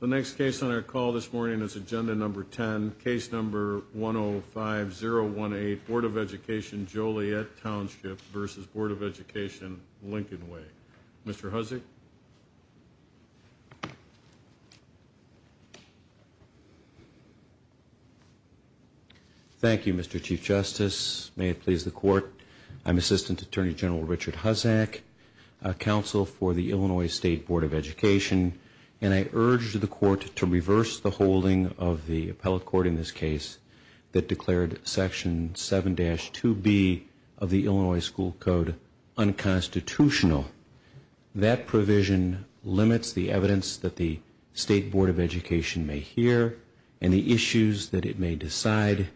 The next case on our call this morning is Agenda Number 10, Case Number 105-018, Board of Education, Joliet Township v. Board of Education, Lincoln Way. Mr. Hussack? Thank you, Mr. Chief Justice. May it please the Court, I'm Assistant Attorney General Richard Hussack, Counsel for the Illinois State Board of Education, and I urge the Court to reverse the holding of the appellate court in this case that declared Section 7-2B of the Illinois School Code unconstitutional. That provision limits the evidence that the State Board of Education may hear and the issues that it may decide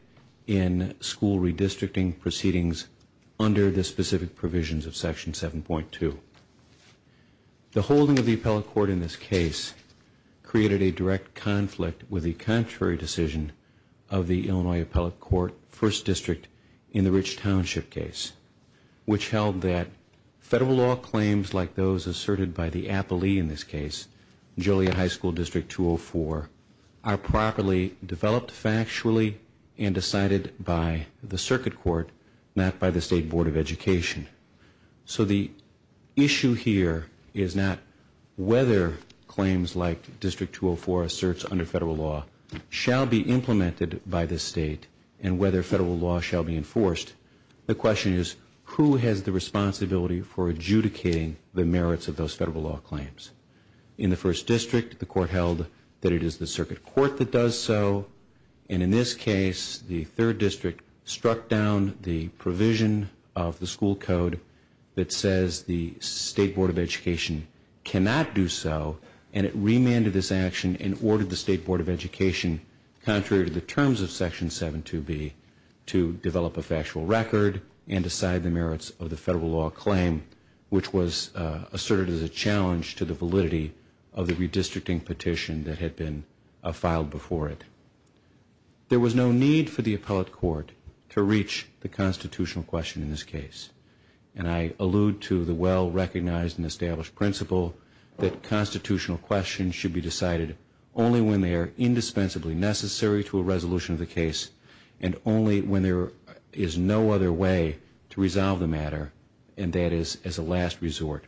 in school redistricting proceedings under the specific provisions of Section 7.2. The holding of the appellate court in this case created a direct conflict with the contrary decision of the Illinois Appellate Court First District in the Rich Township case, which held that Federal law claims like those asserted by the Appalee in this case, Joliet High School District 204, are properly developed factually and decided by the Circuit Court, not by the State Board of Education. So the issue here is not whether claims like District 204 asserts under Federal law shall be implemented by the State and whether Federal law shall be enforced. The question is who has the responsibility for adjudicating the merits of those Federal law claims. In the First District, the Court held that it is the Circuit Court that does so and in this case, the Third District struck down the provision of the School Code that says the State Board of Education cannot do so and it remanded this action and ordered the State Board of Education, contrary to the terms of Section 7-2B, to develop a factual record and decide the merits of the Federal law claim, which was asserted as a challenge to the validity of the redistricting petition that had been filed before it. There was no need for the Appellate Court to reach the constitutional question in this case and I allude to the well-recognized and established principle that constitutional questions should be decided only when they are indispensably necessary to a resolution of the case and only when there is no other way to resolve the matter and that is as a last resort.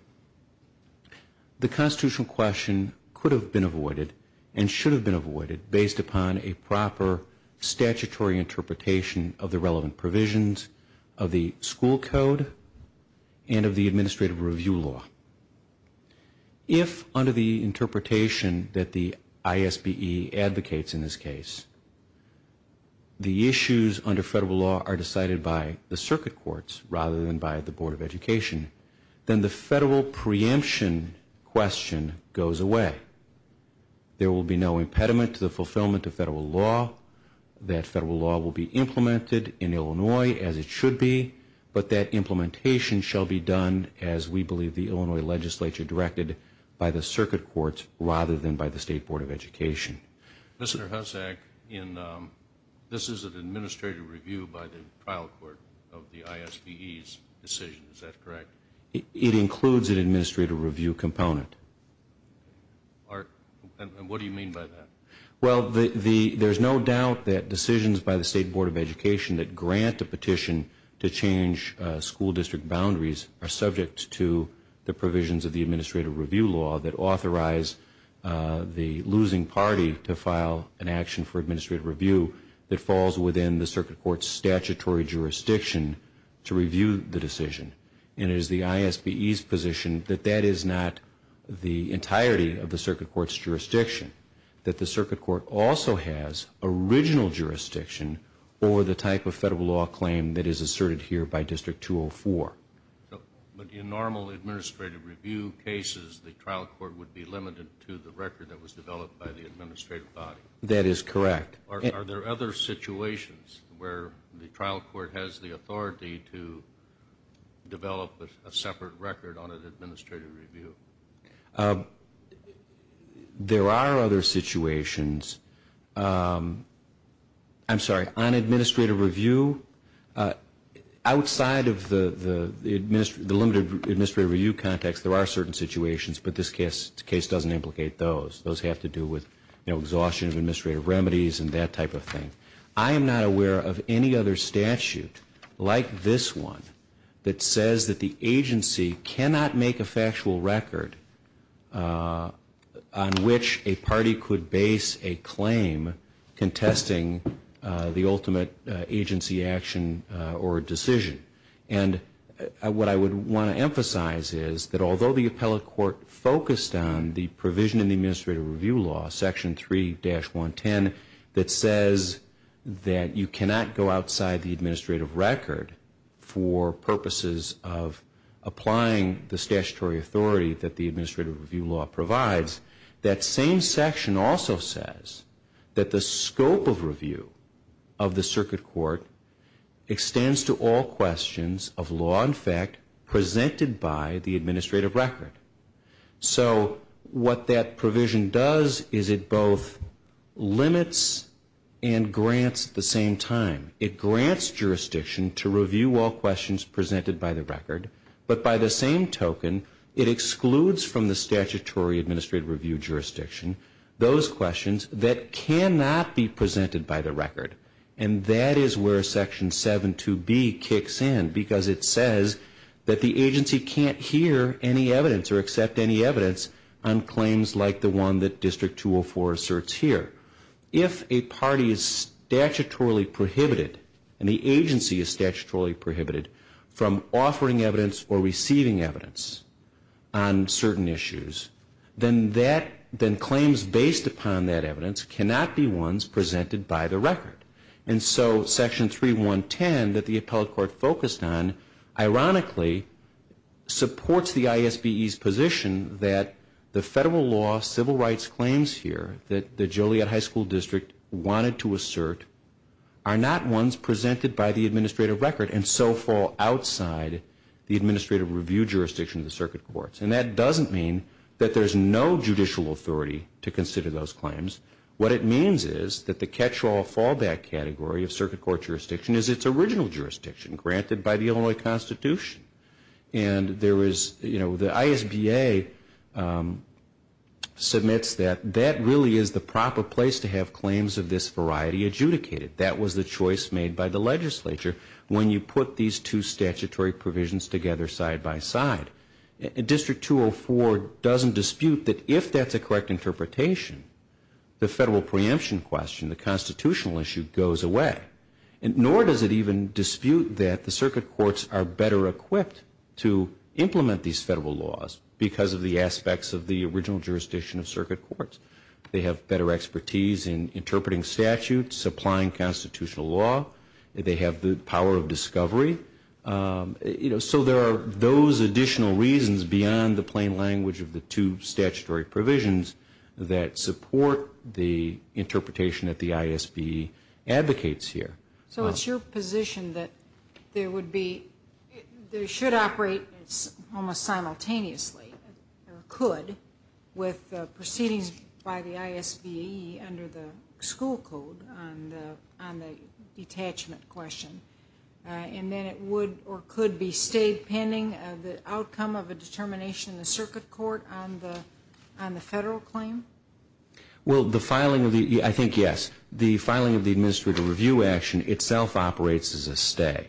The constitutional question could have been avoided and should have been avoided based upon a proper statutory interpretation of the relevant provisions of the School Code and of the Administrative Review Law. If under the interpretation that the ISBE advocates in this case, the issues under Federal law are decided by the Circuit Courts rather than by the Board of Education, then the Federal preemption question goes away. There will be no impediment to the fulfillment of Federal law. That Federal law will be implemented in Illinois as it should be, but that implementation shall be done as we believe the Illinois Legislature directed by the Circuit Courts rather than by the State Board of Education. Mr. Hussack, this is an Administrative Review by the Trial Court of the ISBE's decision, is that correct? It includes an Administrative Review component. What do you mean by that? There is no doubt that decisions by the State Board of Education that grant a petition to the Administrative Review Law that authorize the losing party to file an action for Administrative Review that falls within the Circuit Court's statutory jurisdiction to review the decision. And it is the ISBE's position that that is not the entirety of the Circuit Court's jurisdiction, that the Circuit Court also has original jurisdiction over the type of Federal law claim that is asserted here by District 204. But in normal Administrative Review cases, the Trial Court would be limited to the record that was developed by the Administrative Body? That is correct. Are there other situations where the Trial Court has the authority to develop a separate record on an Administrative Review? There are other situations, I'm sorry, on Administrative Review, outside of the limited Administrative Review context, there are certain situations, but this case doesn't implicate those. Those have to do with exhaustion of Administrative Remedies and that type of thing. I am not aware of any other statute like this one that says that the agency cannot make a factual record on which a party could base a claim contesting the ultimate agency action or decision. And what I would want to emphasize is that although the Appellate Court focused on the provision in the Administrative Review Law, Section 3-110, that says that you cannot go the Administrative Review Law provides, that same section also says that the scope of review of the Circuit Court extends to all questions of law and fact presented by the Administrative Record. So what that provision does is it both limits and grants at the same time. It grants jurisdiction to review all questions presented by the record, but by the same token, it excludes from the statutory Administrative Review jurisdiction those questions that cannot be presented by the record. And that is where Section 7-2B kicks in because it says that the agency can't hear any evidence or accept any evidence on claims like the one that District 204 asserts here. If a party is statutorily prohibited and the agency is statutorily prohibited from offering evidence or receiving evidence on certain issues, then claims based upon that evidence cannot be ones presented by the record. And so Section 3-110 that the Appellate Court focused on, ironically, supports the ISBE's position that the federal law civil rights claims here that the Joliet High School District wanted to assert are not ones presented by the Administrative Record and so fall outside the Administrative Review jurisdiction of the Circuit Courts. And that doesn't mean that there's no judicial authority to consider those claims. What it means is that the catch-all fallback category of Circuit Court jurisdiction is its original jurisdiction granted by the Illinois Constitution. And there is, you know, the ISBA submits that that really is the proper place to have claims of this variety adjudicated. That was the choice made by the legislature when you put these two statutory provisions together side by side. District 204 doesn't dispute that if that's a correct interpretation, the federal preemption question, the constitutional issue, goes away. Nor does it even dispute that the Circuit Courts are better equipped to implement these federal laws because of the aspects of the original jurisdiction of Circuit Courts. They have better expertise in interpreting statutes, applying constitutional law. They have the power of discovery. So there are those additional reasons beyond the plain language of the two statutory provisions that support the interpretation that the ISBE advocates here. So it's your position that there would be, they should operate almost simultaneously, or could, with proceedings by the ISBE under the school code on the detachment question. And then it would or could be stayed pending the outcome of a determination in the Circuit Court on the federal claim? Well, the filing of the, I think yes, the filing of the administrative review action itself operates as a stay.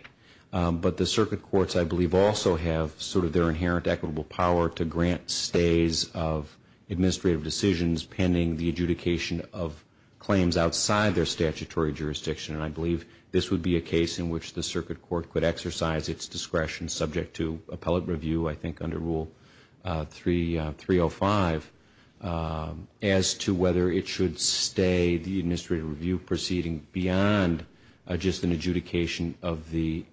But the Circuit Courts, I believe, also have sort of their inherent equitable power to grant stays of administrative decisions pending the adjudication of claims outside their statutory jurisdiction. And I believe this would be a case in which the Circuit Court could exercise its discretion subject to appellate review, I think under Rule 305, as to whether it should stay the administrative review proceeding beyond just an adjudication of the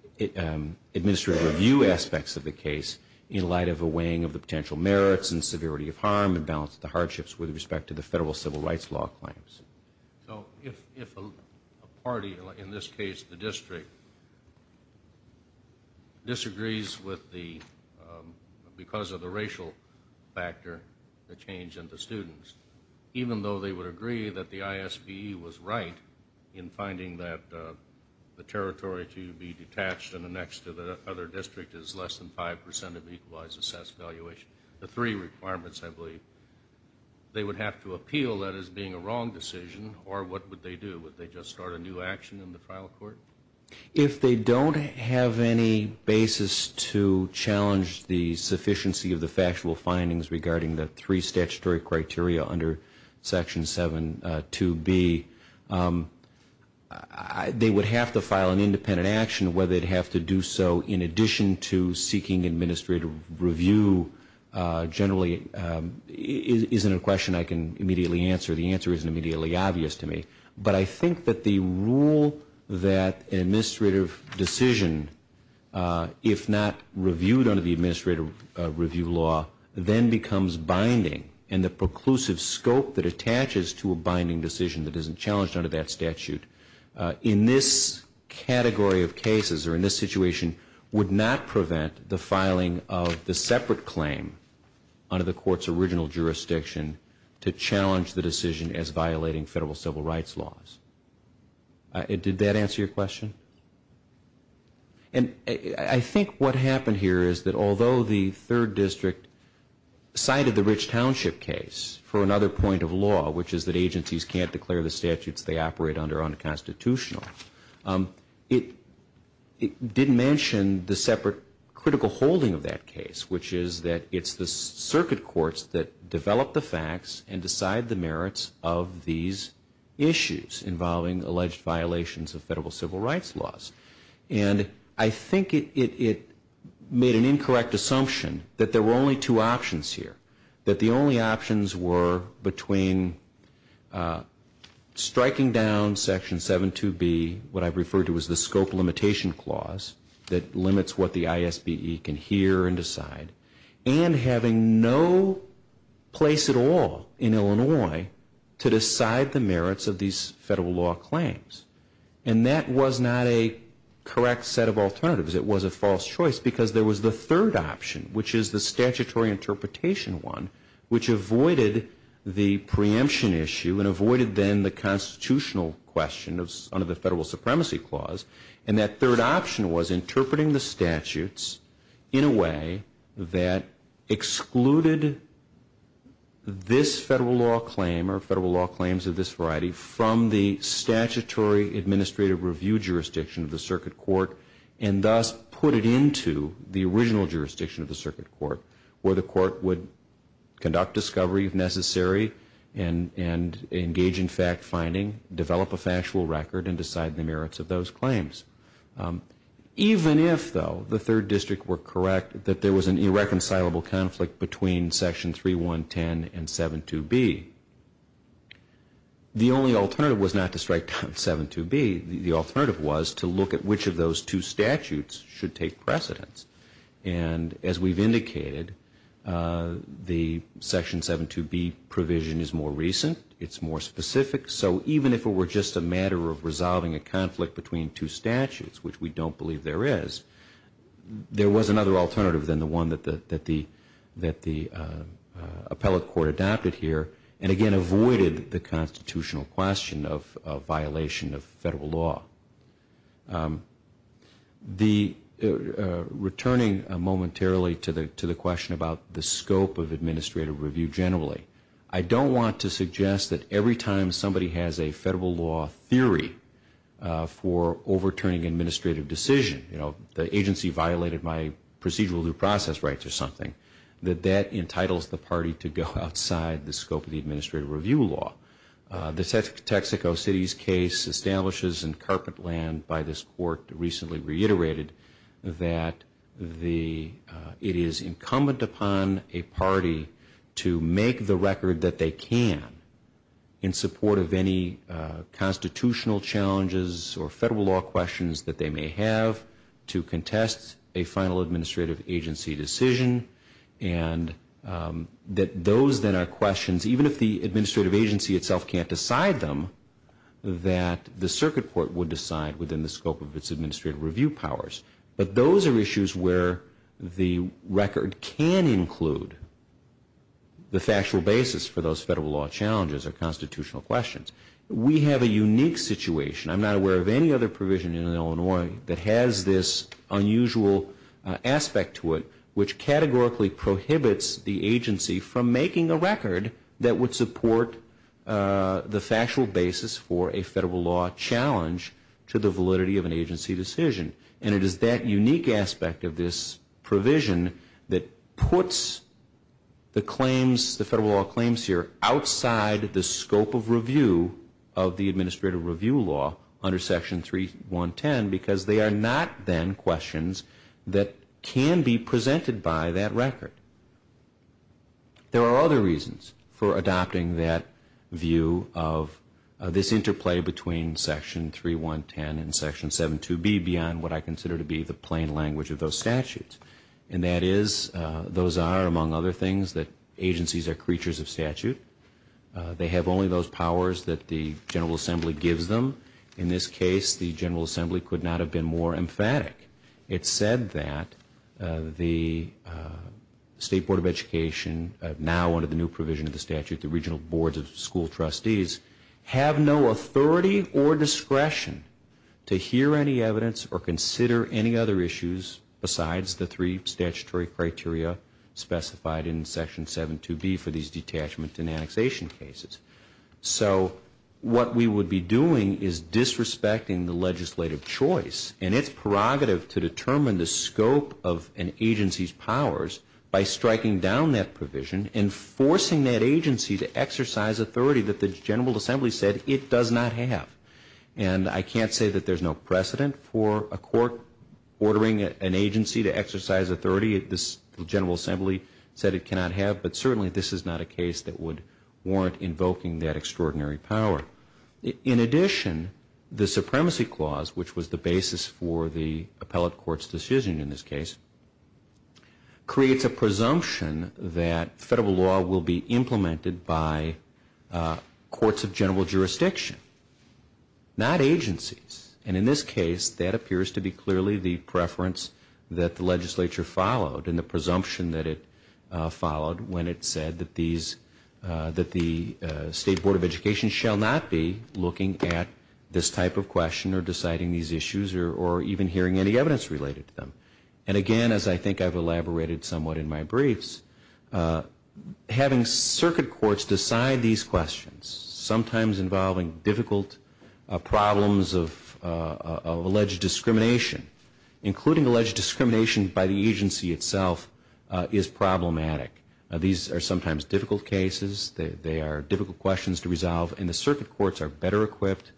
administrative review aspects of the case in light of a weighing of the potential merits and severity of harm and balance of the hardships with respect to the federal civil rights law claims. So if a party, in this case the district, disagrees with the, because of the racial factor, the change in the students, even though they would agree that the ISBE was right in finding that the territory to be detached and annexed to the other district is less than 5% of equalized assessed valuation, the three requirements, I believe, they would have to appeal that as being a wrong decision, or what would they do? Would they just start a new action in the final court? If they don't have any basis to challenge the sufficiency of the factual findings regarding the three statutory criteria under Section 7.2.B, they would have to file an independent action whether they'd have to do so in addition to seeking administrative review generally is not a question I can immediately answer. The answer isn't immediately obvious to me. But I think that the rule that an administrative decision, if not reviewed under the administrative review law, then becomes binding, and the preclusive scope that attaches to a binding decision that isn't challenged under that statute, in this category of cases or in this court's original jurisdiction, to challenge the decision as violating federal civil rights laws. Did that answer your question? And I think what happened here is that although the third district cited the Rich Township case for another point of law, which is that agencies can't declare the statutes they operate under unconstitutional, it didn't mention the separate critical holding of that case, which is that it's the circuit courts that develop the facts and decide the merits of these issues involving alleged violations of federal civil rights laws. And I think it made an incorrect assumption that there were only two options here, that the only options were between striking down Section 7.2.B, what I've referred to as the scope limitation clause, that limits what the ISBE can hear and decide, and having no place at all in Illinois to decide the merits of these federal law claims. And that was not a correct set of alternatives. It was a false choice because there was the third option, which is the statutory interpretation one, which avoided the preemption issue and avoided then the constitutional question under the federal supremacy clause. And that third option was interpreting the statutes in a way that excluded this federal law claim or federal law claims of this variety from the statutory administrative review jurisdiction of the circuit court and thus put it into the original jurisdiction of the circuit court where the court would start finding, develop a factual record, and decide the merits of those claims. Even if, though, the third district were correct that there was an irreconcilable conflict between Section 3.1.10 and 7.2.B, the only alternative was not to strike down 7.2.B. The alternative was to look at which of those two statutes should take precedence. And as we've indicated, the Section 7.2.B provision is more recent. It's more specific. So even if it were just a matter of resolving a conflict between two statutes, which we don't believe there is, there was another alternative than the one that the appellate court adopted here and, again, avoided the constitutional question of violation of federal law. Returning momentarily to the question about the scope of administrative review generally, I don't want to suggest that every time somebody has a federal law theory for overturning administrative decision, you know, the agency violated my procedural due process rights or something, that that entitles the party to go outside the scope of the administrative review law. The Texaco City's case establishes in carpet land by this court recently reiterated that it is incumbent upon a party to make the record that they can in support of any constitutional challenges or federal law questions that they may have to contest a final administrative agency decision and that those then are questions, even if the administrative agency itself can't decide them, that the circuit court would decide within the scope of its administrative review powers. But those are issues where the record can include the factual basis for those federal law challenges or constitutional questions. We have a unique situation. I'm not aware of any other provision in Illinois that has this unusual aspect to it, which categorically prohibits the agency from making a record that would support the factual basis for a federal law challenge to the validity of an agency decision. And it is that unique aspect of this provision that puts the claims, the federal law claims here, outside the scope of review of the administrative review law under Section 3.1.10 because they are not then questions that can be presented by that record. There are other reasons for adopting that view of this interplay between Section 3.1.10 and Section 7.2.B beyond what I consider to be the plain language of those statutes. And that is, those are, among other things, that agencies are creatures of statute. They have only those powers that the General Assembly gives them. In this case, the General Assembly could not have been more emphatic. It said that the State Board of Education now under the new provision of the statute, the regional boards of school trustees, have no authority or discretion to hear any evidence or consider any other issues besides the three statutory criteria specified in Section 7.2.B for these detachment and annexation cases. So what we would be doing is disrespecting the legislative choice. And it's prerogative to determine the scope of an agency's powers by striking down that provision and forcing that agency to exercise authority that the General Assembly said it does not have. And I can't say that there's no precedent for a court ordering an agency to exercise authority that the General Assembly said it cannot have. But certainly this is not a case that would warrant invoking that extraordinary power. In addition, the Supremacy Clause, which was the basis for the appellate court's decision in this case, creates a presumption that federal law will be implemented by courts of general jurisdiction, not agencies. And in this case, that appears to be clearly the preference that the legislature followed and the presumption that it followed when it said that these, that the State Board of Education shall not be looking at this type of question or deciding these issues or even hearing any evidence related to them. And again, as I think I've elaborated somewhat in my briefs, having circuit courts decide these questions, sometimes involving difficult problems of alleged discrimination, including alleged discrimination by the agency itself, is problematic. These are sometimes difficult cases. They are difficult questions to resolve. And the circuit courts are better equipped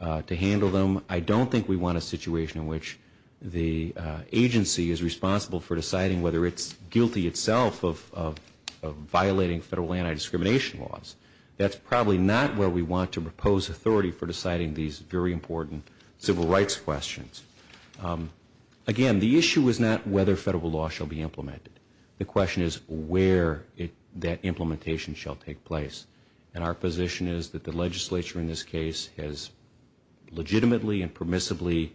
to handle them. I don't think we want a situation in which the agency is responsible for deciding whether it's guilty itself of violating federal anti-discrimination laws. That's probably not where we want to propose authority for deciding these very important civil rights questions. Again, the issue is not whether federal law shall be implemented. The question is where that implementation shall take place. And our position is that the legislature in this case has legitimately and permissibly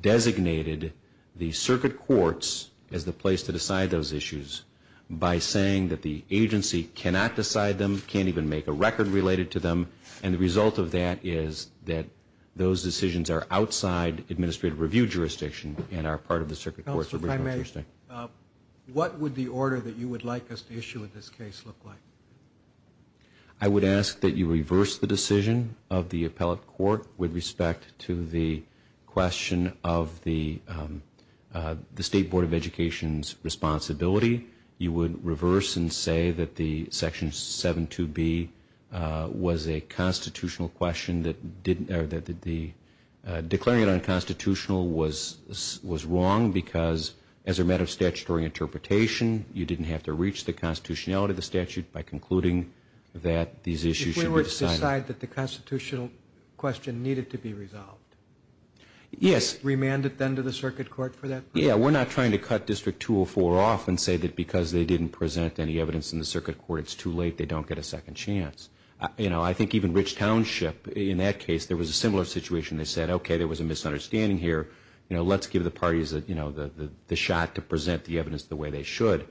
designated the circuit courts as the place to decide those issues by saying that the agency cannot decide them, can't even make a record related to them. And the result of that is that those decisions are outside administrative review jurisdiction and are part of the circuit court's original jurisdiction. What would the order that you would like us to issue in this case look like? I would ask that you reverse the decision of the appellate court with respect to the question of the State Board of Education's responsibility. You would reverse and say that the Section 7.2.B was a constitutional question that the declaring it unconstitutional was wrong because as a matter of statutory interpretation, you didn't have to reach the constitutionality of the statute by concluding that these issues should be decided. If we were to decide that the constitutional question needed to be resolved, remand it then to the circuit court for that purpose? Yeah, we're not trying to cut District 204 off and say that because they didn't present any evidence in the circuit court, it's too late, they don't get a second chance. I think even Rich Township, in that case, there was a similar situation. They said, okay, there was a misunderstanding here. Let's give the parties the shot to present the evidence the way they should.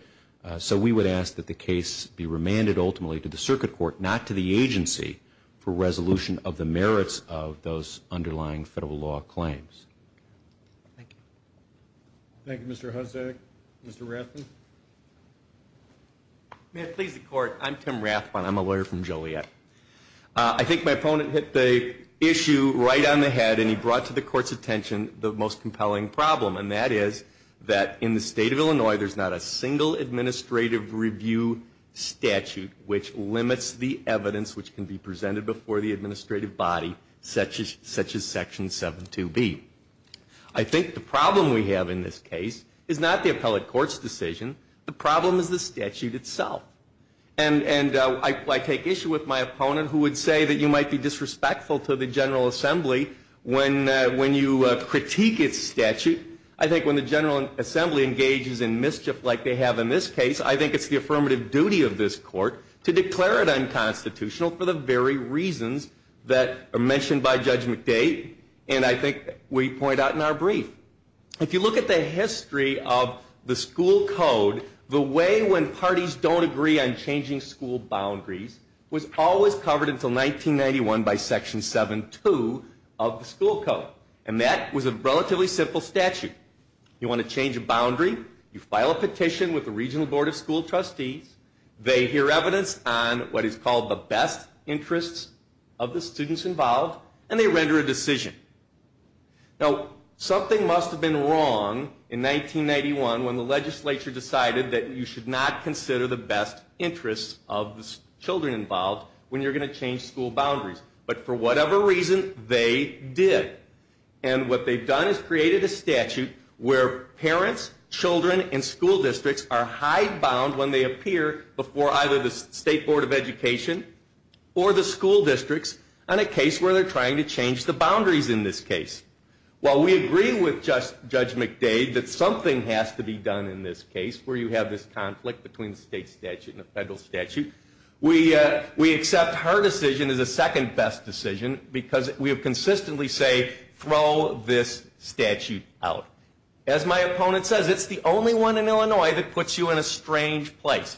So we would ask that the case be remanded ultimately to the circuit court, not to the agency, for resolution of the merits of those underlying federal law claims. Thank you. Thank you, Mr. Hussack. Mr. Rathbun? May it please the Court, I'm Tim Rathbun. I'm a lawyer from Joliet. I think my opponent hit the issue right on the head and he brought to the Court's attention the most compelling problem, and that is that in the State of Illinois, there's not a single administrative review statute which limits the evidence which can be presented before the administrative body such as Section 72B. I think the problem we have in this case is not the appellate court's decision, the problem is the statute itself. And I take issue with my opponent who would say that you might be disrespectful to the General Assembly when you critique its statute. I think when the General Assembly engages in mischief like they have in this case, I think it's the affirmative duty of this Court to declare it unconstitutional for the very reasons that are mentioned by Judge McDade and I think we point out in our brief. If you look at the history of the school code, the way when parties don't agree on changing school boundaries was always covered until 1991 by Section 72 of the school code. And that was a relatively simple statute. You want to change a boundary, you file a petition with the Regional Board of School Trustees, they hear evidence on what is called the best interests of the students involved, and they render a decision. Now, something must have been wrong in 1991 when the legislature decided that you should not consider the best interests of the children involved when you're going to change school boundaries. But for whatever reason, they did. And what they've done is created a statute where parents, children and school districts are high bound when they appear before either the State Board of Education or the school districts on a case where they're trying to change the boundaries in this case. While we agree with Judge McDade that something has to be done in this case where you have this conflict between the state statute and the federal statute, we accept her decision as a second best decision because we have consistently say, throw this statute out. As my opponent says, it's the only one in Illinois that puts you in a strange place.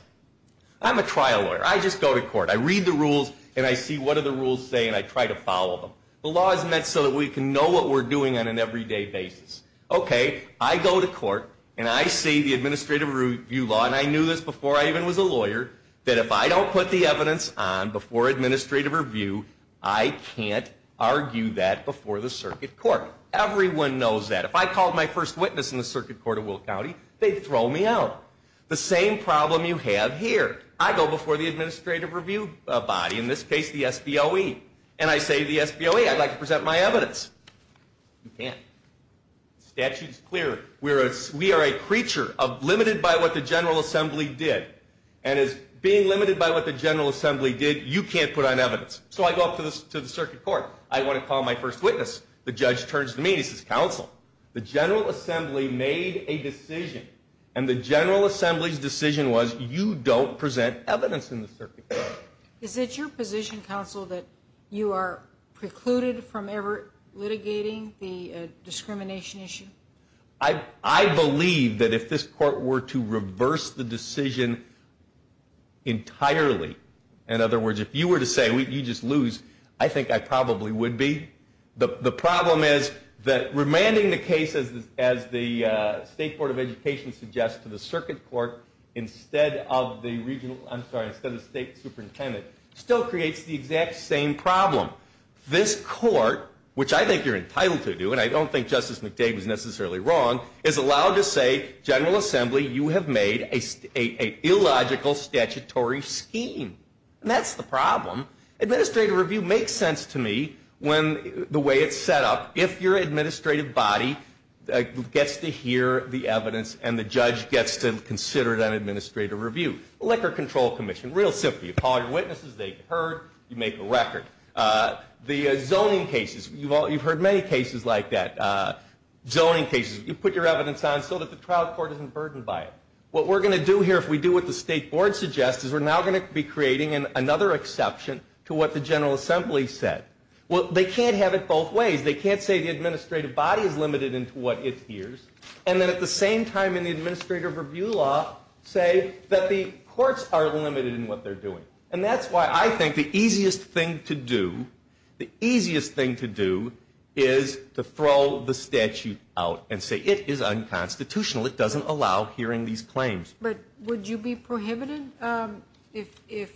I'm a trial lawyer. I just go to court. I read the rules and I see what do the rules say and I try to follow them. The law is meant so that we can know what we're doing on an everyday basis. Okay, I go to court and I see the administrative review law, and I knew this before I even was a lawyer, that if I don't put the evidence on before administrative review, I can't argue that before the circuit court. Everyone knows that. If I called my first witness in the circuit court of Will County, they'd throw me out. The same problem you have here. I go before the administrative review body, in this case the SBOE, and I say to the SBOE, I'd like to present my evidence. You can't. The statute's clear. We are a creature of limited by what the General Assembly did, and as being limited by what the General Assembly did, you can't put on evidence. So I go up to the circuit court. I want to call my first witness. The judge turns to me and he says, Counsel, the General Assembly made a decision, and the General Assembly's decision was you don't present evidence in the circuit court. Is it your position, Counsel, that you are precluded from ever litigating the discrimination issue? I believe that if this court were to reverse the decision entirely, in other words, if you were to say, you just lose, I think I probably would be. The problem is that remanding the case, as the State Board of Education suggests, to the circuit court instead of the regional, I'm sorry, instead of the state superintendent, still creates the exact same problem. This court, which I think you're entitled to do, and I don't think Justice McDade was necessarily wrong, is allowed to say, General Assembly, you have made a illogical statutory scheme. And that's the problem. Administrative review makes sense to me when the way it's set up, if your administrative body gets to hear the evidence and the judge gets to consider it on administrative review. Liquor Control Commission, real simple. You call your witnesses, they heard, you make a record. The zoning cases, you've heard many cases like that. Zoning cases, you put your evidence on so that the trial court isn't to be creating another exception to what the General Assembly said. Well, they can't have it both ways. They can't say the administrative body is limited into what it hears, and then at the same time in the administrative review law, say that the courts are limited in what they're doing. And that's why I think the easiest thing to do, the easiest thing to do is to throw the statute out and say it is unconstitutional. It doesn't allow hearing these claims. But would you be prohibited if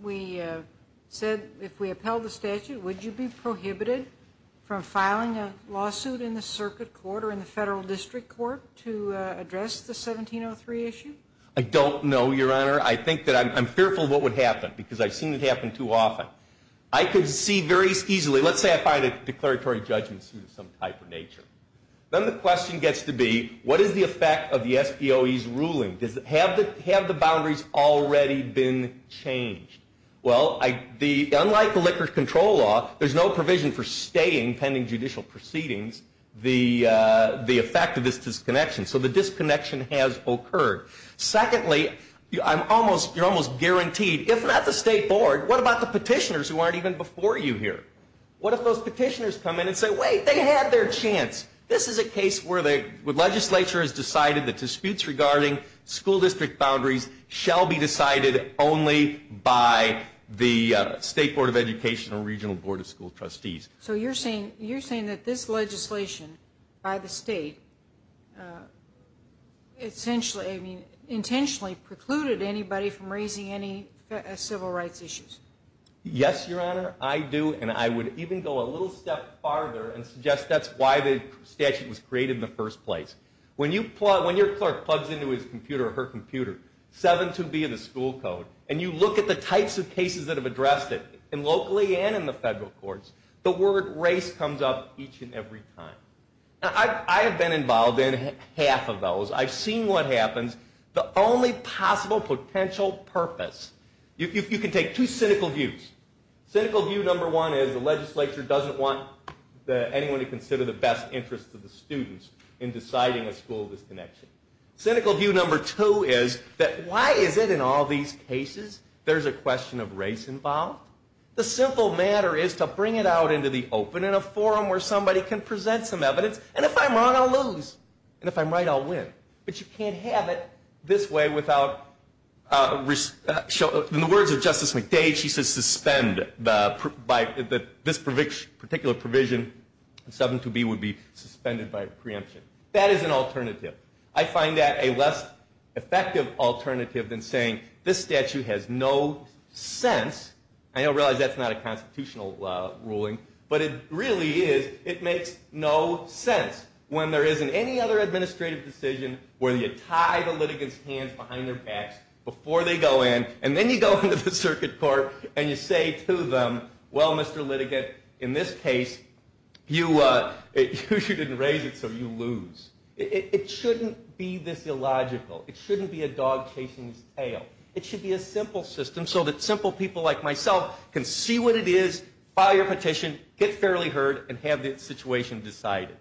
we said, if we upheld the statute, would you be prohibited from filing a lawsuit in the circuit court or in the federal district court to address the 1703 issue? I don't know, Your Honor. I think that I'm fearful what would happen, because I've seen it happen too often. I could see very easily, let's say I find a declaratory judgment suit of some type of nature. Then the question gets to be, what is the effect of the SPOE's ruling? Have the boundaries already been changed? Well, unlike the liquor control law, there's no provision for staying pending judicial proceedings, the effect of this disconnection. So the disconnection has occurred. Secondly, you're almost guaranteed, if not the state board, what about the petitioners who aren't even before you here? What if those petitioners come in and say, wait, they had their chance. This is a case where the legislature has decided that disputes regarding school district boundaries shall be decided only by the state board of education or regional board of school trustees. So you're saying that this legislation by the state intentionally precluded anybody from raising any civil rights issues? Yes, Your Honor, I do. And I would even go a little step farther and suggest that's why the statute was created in the first place. When your clerk plugs into his computer or her computer 7-2-B of the school code, and you look at the types of cases that have addressed it, and locally and in the federal courts, the word race comes up each and every time. I have been involved in half of those. I've seen what happens. The only possible potential purpose, you can take two cynical views. Cynical view number one is the legislature doesn't want anyone to consider the best interests of the students in deciding a school disconnection. Cynical view number two is that why is it in all these cases there's a question of race involved? The simple matter is to bring it out into the open in a forum where somebody can present some evidence. And if I'm wrong, I'll lose. And if I'm right, I'll win. But you can't have it this way without, in the words of Justice McDade, she says suspend by this particular provision, 7-2-B would be suspended by preemption. That is an alternative. I find that a less effective alternative than saying this statute has no sense. I realize that's not a constitutional ruling, but it really is. It makes no sense. When there isn't any other administrative decision where you tie the litigants' hands behind their backs before they go in, and then you go into the circuit court and you say to them, well, Mr. Litigant, in this case, you didn't raise it, so you lose. It shouldn't be this illogical. It shouldn't be a dog chasing its tail. It should be a simple system so that simple people like myself can see what it is, file your petition, get fairly heard, and have the situation decided.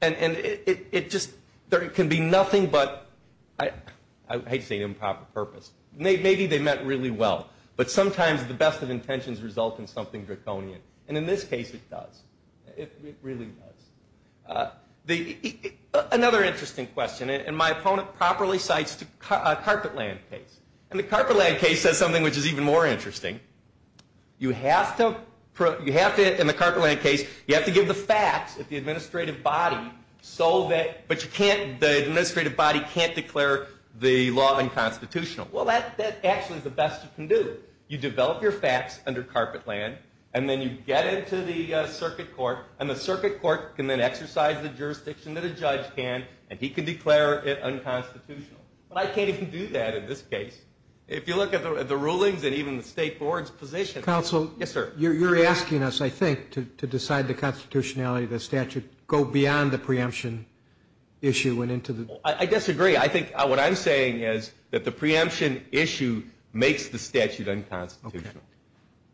And it just can be nothing but, I hate to say it, improper purpose. Maybe they meant really well, but sometimes the best of intentions result in something draconian. And in this case, it does. It really does. Another interesting question, and my opponent properly cites a Carpetland case. And the Carpetland case says something which is even more interesting. You have to, in the Carpetland case, you have to give the facts at the administrative body, but the administrative body can't declare the law unconstitutional. Well, that actually is the best you can do. You develop your facts under Carpetland, and then you get into the circuit court, and the circuit court can then exercise the jurisdiction that a judge can, and he can declare it unconstitutional. But I can't even do that in this case. If you look at the rulings and even the state board's position. Counsel, you're asking us, I think, to decide the constitutionality of the statute, go beyond the preemption issue and into the... I disagree. I think what I'm saying is that the preemption issue makes the statute unconstitutional.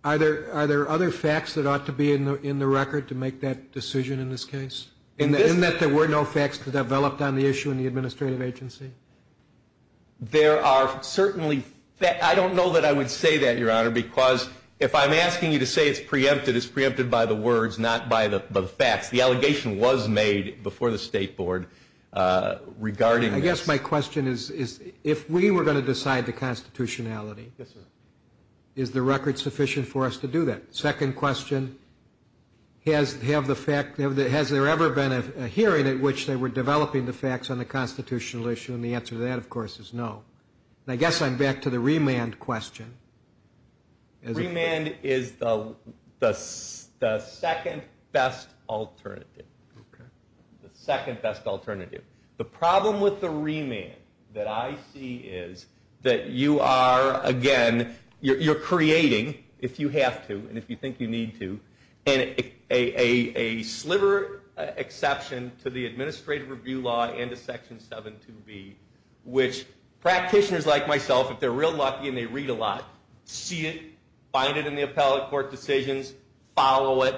Are there other facts that ought to be in the record to make that decision in this case? In that there were no facts developed on the issue in the administrative agency? There are certainly... I don't know that I would say that, Your Honor, because if I'm asking you to say it's preempted, it's preempted by the words, not by the facts. The allegation was made before the state board regarding this. I guess my question is, if we were going to decide the constitutionality, is the record sufficient for us to do that? Second question, has there ever been a hearing at which they were developing the facts on the constitutional issue? And the answer to that, of course, is no. And I guess I'm back to the remand question. Remand is the second best alternative. The second best alternative. The problem with the remand that I see is that you are, again, you're creating, if you have to and if you think you need to, a sliver exception to the administrative review law and to Section 7.2b, which practitioners like myself, if they're real lucky and they read a lot, see it, find it in the appellate court decisions, follow it.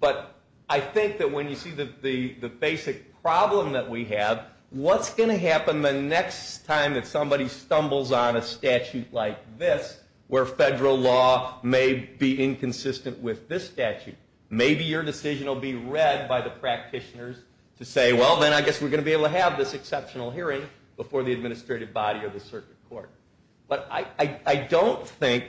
But I think that when you see the basic problem that we have, what's going to happen the next time that somebody stumbles on a statute like this, where federal law may be inconsistent with this statute, maybe your decision will be read by the practitioners to say, well, then I guess we're going to be able to have this exceptional hearing before the administrative body or the circuit court. But I don't think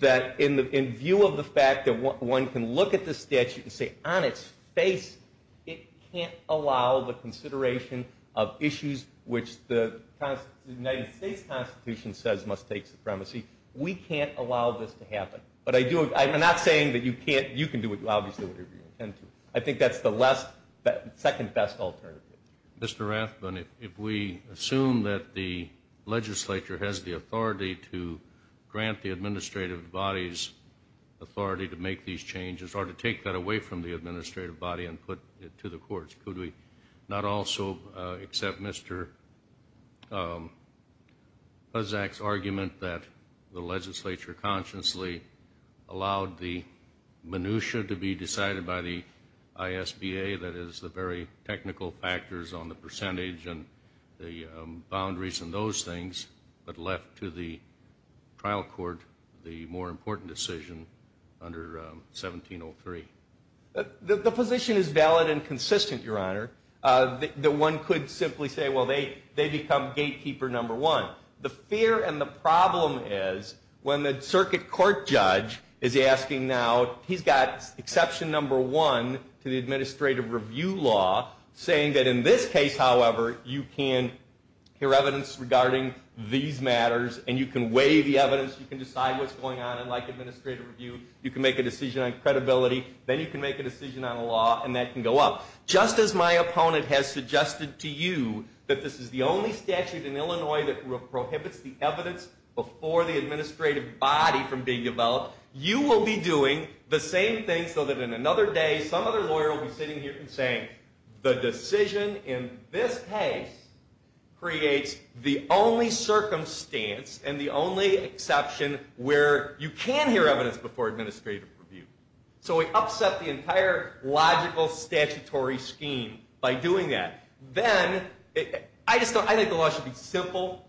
that in view of the fact that one can look at the statute and say on its face, it can't allow the consideration of issues which the United States Constitution says must take supremacy. We can't allow this to happen. But I do, I'm not saying that you can't, you can do it, obviously, whatever you intend to. I think that's the less, second best alternative. Mr. Rathbun, if we assume that the legislature has the authority to grant the administrative body's authority to make these changes, or to take that away from the administrative body and put it to the courts, could we not also accept Mr. Puzak's argument that the legislature consciously allowed the minutia to be decided by the ISBA, that is the very technical factors on the percentage and the boundaries and those things, but left to the more important decision under 1703? The position is valid and consistent, Your Honor. One could simply say, well, they become gatekeeper number one. The fear and the problem is when the circuit court judge is asking now, he's got exception number one to the administrative review law, saying that in this case, however, you can hear evidence regarding these matters and you can weigh the evidence, you can decide what's going on in administrative review, you can make a decision on credibility, then you can make a decision on a law, and that can go up. Just as my opponent has suggested to you that this is the only statute in Illinois that prohibits the evidence before the administrative body from being developed, you will be doing the same thing so that in another day, some other lawyer will be sitting here and saying, the decision in this case creates the only circumstance and the only exception where you can hear evidence before administrative review. So we upset the entire logical statutory scheme by doing that. Then, I just don't, I think the law should be simple,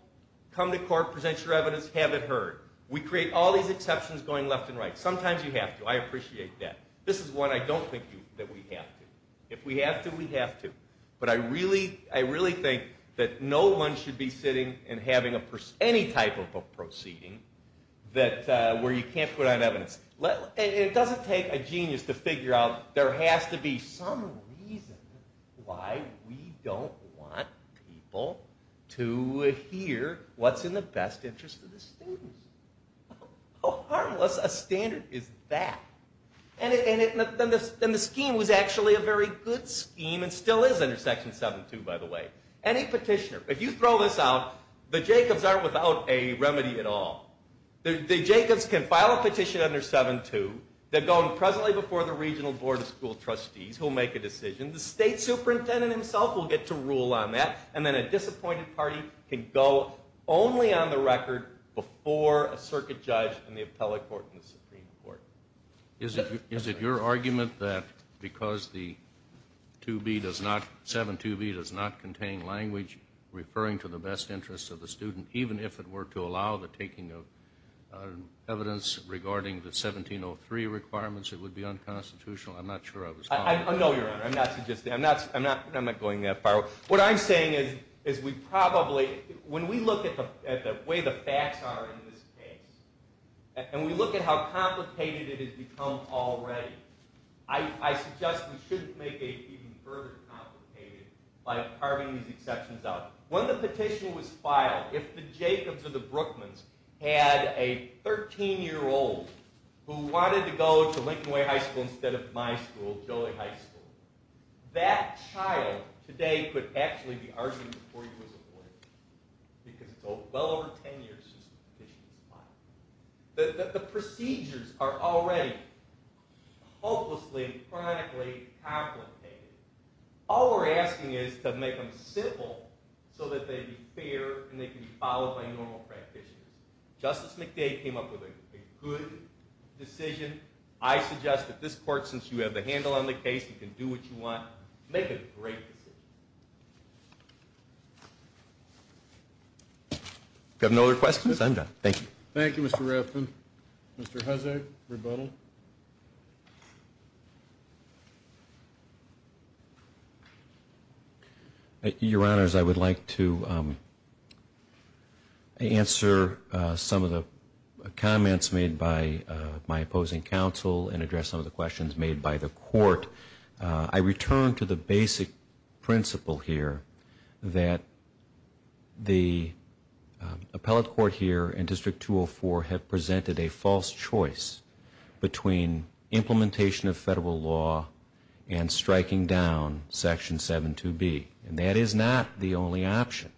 come to court, present your evidence, have it heard. We create all these exceptions going left and right. Sometimes you have to. I appreciate that. This is one I don't think that we have to. If we have to, we have to. But I really think that no one should be sitting and having any type of a proceeding where you can't put on evidence. It doesn't take a genius to figure out there has to be some reason why we don't want people to hear what's in the best interest of the scheme and still is under Section 7.2, by the way. Any petitioner, if you throw this out, the Jacobs aren't without a remedy at all. The Jacobs can file a petition under 7.2, they're going presently before the regional board of school trustees, who'll make a decision. The state superintendent himself will get to rule on that, and then a disappointed party can go only on the record before a circuit judge and the appellate court and the Supreme Court. Is it your argument that because the 7.2b does not contain language referring to the best interest of the student, even if it were to allow the taking of evidence regarding the 17.03 requirements, it would be unconstitutional? I'm not sure I was following that. No, Your Honor. I'm not suggesting. I'm not going that far. What I'm saying is we probably, when we look at the way the facts are in this case, and we look at how complicated it has become already, I suggest we shouldn't make it even further complicated by carving these exceptions out. When the petition was filed, if the Jacobs or the Brookmans had a 13-year-old who wanted to go to Lincoln Way High School instead of my school, Joliet High School, that child today could actually be arguing before he was appointed because it's well over 10 years since the petition was filed. The procedures are already hopelessly and chronically complicated. All we're asking is to make them simple so that they'd be fair and they can be followed by normal practitioners. Justice McDade came up with a good decision. I suggest that this Court, since you have the handle on the case, you can do what you want. Make a great decision. If you have no other questions, I'm done. Thank you. Thank you, Mr. Rafton. Mr. Huzzard, rebuttal. Your Honors, I would like to answer some of the comments made by my opposing counsel and address some of the questions made by the Court. I return to the basic principle here that the appellate court here in District 204 had presented a false choice between the implementation of federal law and striking down Section 7.2.B. And that is not the only option.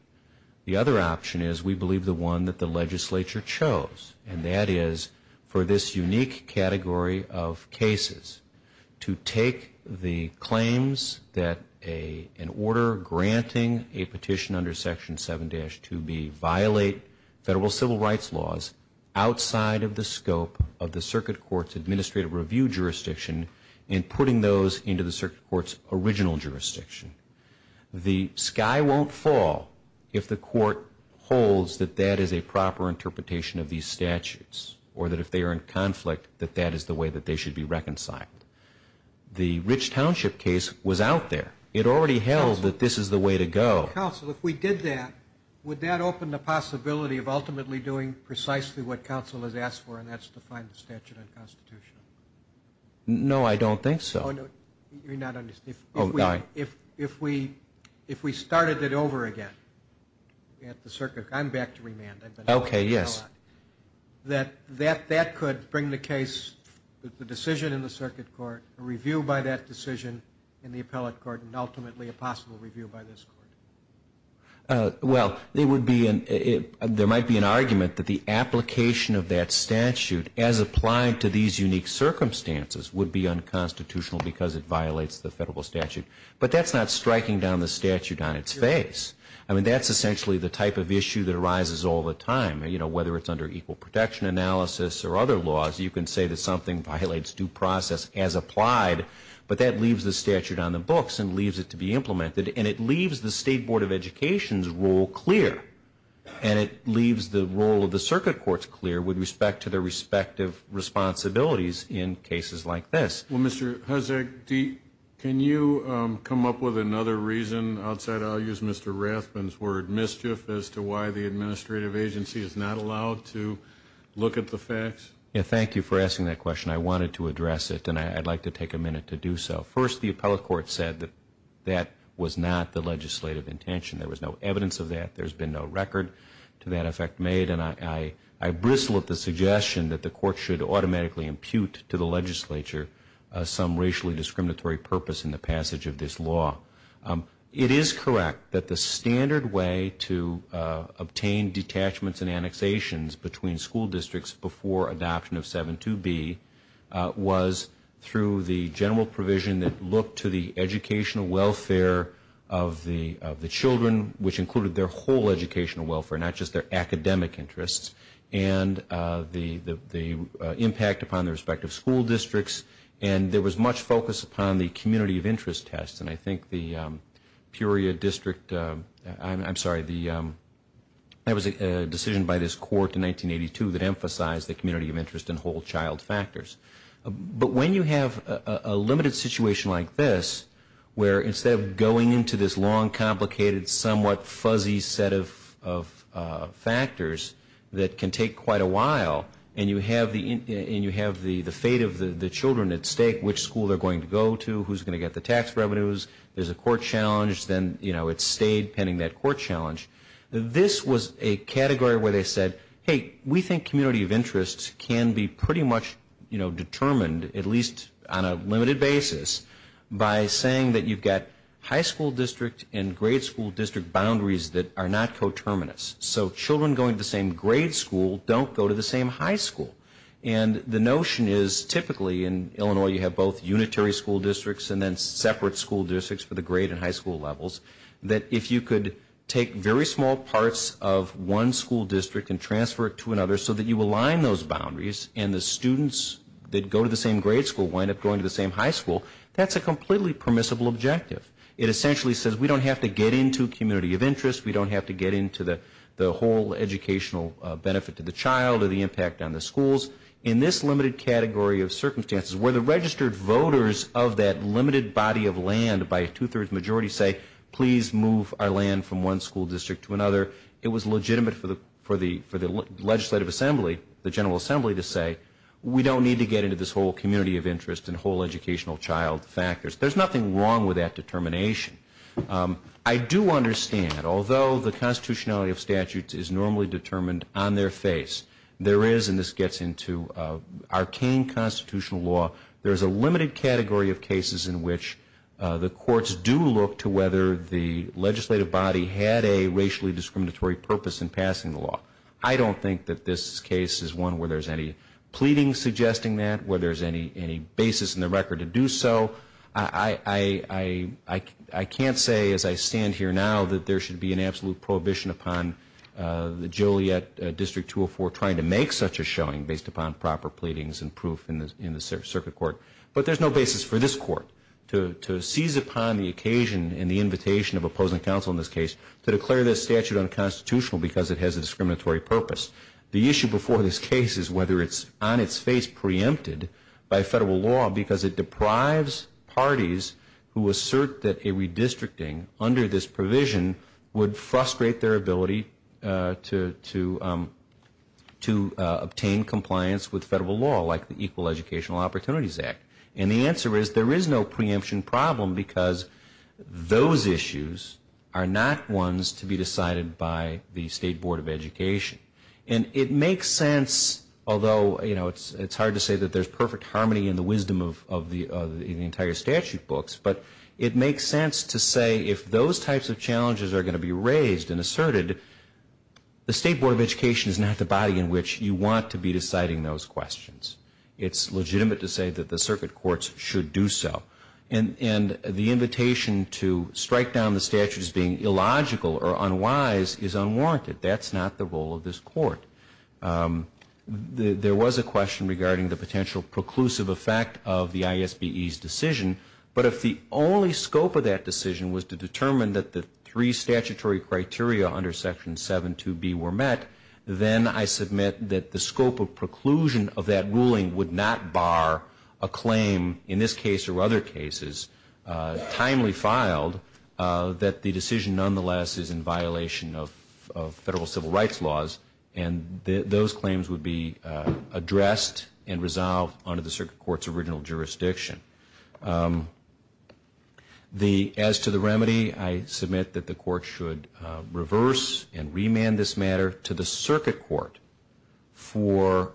The other option is, we believe, the one that the legislature chose. And that is for this unique category of cases to take the claims that an order granting a petition under Section 7-2.B violate federal civil rights laws outside of the scope of the circuit court's administrative review jurisdiction and putting those into the circuit court's original jurisdiction. The sky won't fall if the Court holds that that is a proper interpretation of these statutes, or that if they are in conflict, that that is the way that they should be reconciled. The Rich Township case was out there. It already held that this is the way to go. Counsel, if we did that, would that open the possibility of ultimately doing precisely what we did in the Statute and Constitution? No, I don't think so. Oh, no, you're not understanding. If we started it over again at the circuit, I'm back to remand. Okay, yes. That could bring the case, the decision in the circuit court, a review by that decision in the appellate court, and ultimately a possible review by this Court. Well, there might be an argument that the application of that statute as applied to these unique circumstances would be unconstitutional because it violates the federal statute. But that's not striking down the statute on its face. I mean, that's essentially the type of issue that arises all the time. You know, whether it's under equal protection analysis or other laws, you can say that something violates due process as applied, but that leaves the statute on the books and leaves it to be implemented. And it leaves the State Board of Education's role clear, and it leaves the role of the circuit courts clear with respect to their respective responsibilities in cases like this. Well, Mr. Huzik, can you come up with another reason outside of, I'll use Mr. Rathbun's word, mischief as to why the administrative agency is not allowed to look at the facts? Yes, thank you for asking that question. I wanted to address it, and I'd like to take a minute to do so. First, the appellate court said that that was not the legislative intention. There was no evidence of that. There's been no record to that effect made. And I bristle at the suggestion that the court should automatically impute to the legislature some racially discriminatory purpose in the passage of this law. It is correct that the standard way to obtain detachments and annexations between school districts before adoption of 7.2b was through the general provision that looked to the educational welfare, and that included their whole educational welfare, not just their academic interests, and the impact upon their respective school districts. And there was much focus upon the community of interest tests. And I think the Peoria district, I'm sorry, there was a decision by this court in 1982 that emphasized the community of interest and whole child factors. But when you have a limited situation like this, where instead of going into this long, complicated, somewhat fuzzy set of factors that can take quite a while, and you have the fate of the children at stake, which school they're going to go to, who's going to get the tax revenues, there's a court challenge, then, you know, it stayed pending that court challenge. This was a category where they said, hey, we think community of interest can be pretty much, you know, determined, at least on a limited basis, by saying that you've got high school district and grade school district boundaries that are not coterminous. So children going to the same grade school don't go to the same high school. And the notion is typically in Illinois you have both unitary school districts and then separate school districts for the grade and high school levels, that if you could take very small parts of one school district and transfer it to another so that you align those boundaries and the students that go to the same grade school wind up going to the same high school, that's a completely permissible objective. It essentially says we don't have to get into community of interest, we don't have to get into the whole educational benefit to the child or the impact on the schools. In this limited category of circumstances, where the registered voters of that limited body of land by two-thirds majority say, please move our land from one school district to another, it was legitimate for the legislative assembly, the General Assembly to say, we don't need to get into this whole community of interest and whole educational child factors. There's nothing wrong with that determination. I do understand, although the constitutionality of statutes is normally determined on their face, there is, and this gets into arcane constitutional law, there's a limited category of cases in which the courts do look to whether the legislative body had a racially discriminatory purpose in passing the law. I don't think that this case is one where there's any pleading suggesting that, where there's any basis in the record to do so. I can't say as I stand here now that there should be an absolute prohibition upon the Juliet District 204 trying to make such a showing based upon proper pleadings and proof in the circuit court. But there's no basis for this court to seize upon the occasion and the invitation of opposing counsel to declare this statute unconstitutional because it has a discriminatory purpose. The issue before this case is whether it's on its face preempted by federal law, because it deprives parties who assert that a redistricting under this provision would frustrate their ability to obtain compliance with federal law, like the Equal Educational Opportunities Act. And the answer is there is no basis for this court to seize upon the issue of whether or not it's on its face preempted by federal law. And it makes sense, although it's hard to say that there's perfect harmony in the wisdom of the entire statute books, but it makes sense to say if those types of challenges are going to be raised and asserted, the State Board of Education is not the body in which you want to be deciding those questions. It's legitimate to say that the circuit courts should do so. And the invitation to strike down the statute as being illogical or unwise is unwarranted. That's not the role of this court. There was a question regarding the potential preclusive effect of the ISBE's decision, but if the only scope of that decision was to determine that the three statutory criteria under Section 7.2.B were met, then I submit that the scope of preclusion of that ruling would not bar a claim in this case or other cases, timely filed, that the decision nonetheless is in violation of federal civil rights laws, and those claims would be addressed and resolved under the circuit court's original jurisdiction. As to the remedy, I submit that the court should reverse and remand this matter to the circuit court for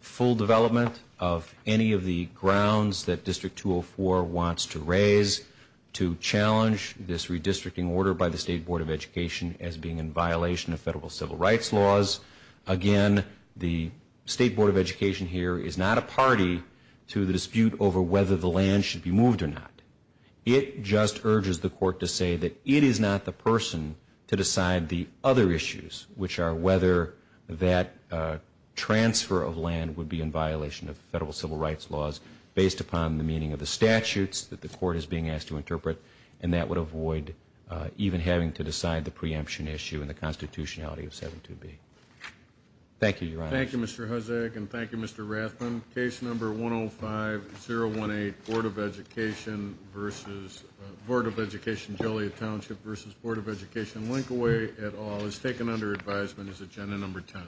full development of any of the grounds that District 204 wants to raise to challenge this redistricting order by the State Board of Education as being in violation of federal civil rights laws. Again, the State Board of Education here is not a party to the dispute over whether the land should be moved or not. It just urges the court to say that it is not the person to decide the other issues, which are whether that is in violation of federal civil rights laws, based upon the meaning of the statutes that the court is being asked to interpret, and that would avoid even having to decide the preemption issue and the constitutionality of 7.2.B. Thank you, Your Honor. Thank you, Mr. Hosek, and thank you, Mr. Rathman. Case number 105-018, Board of Education Joliet Township v. Board of Education Linkaway, et al., is taken under advisement as agenda number 10.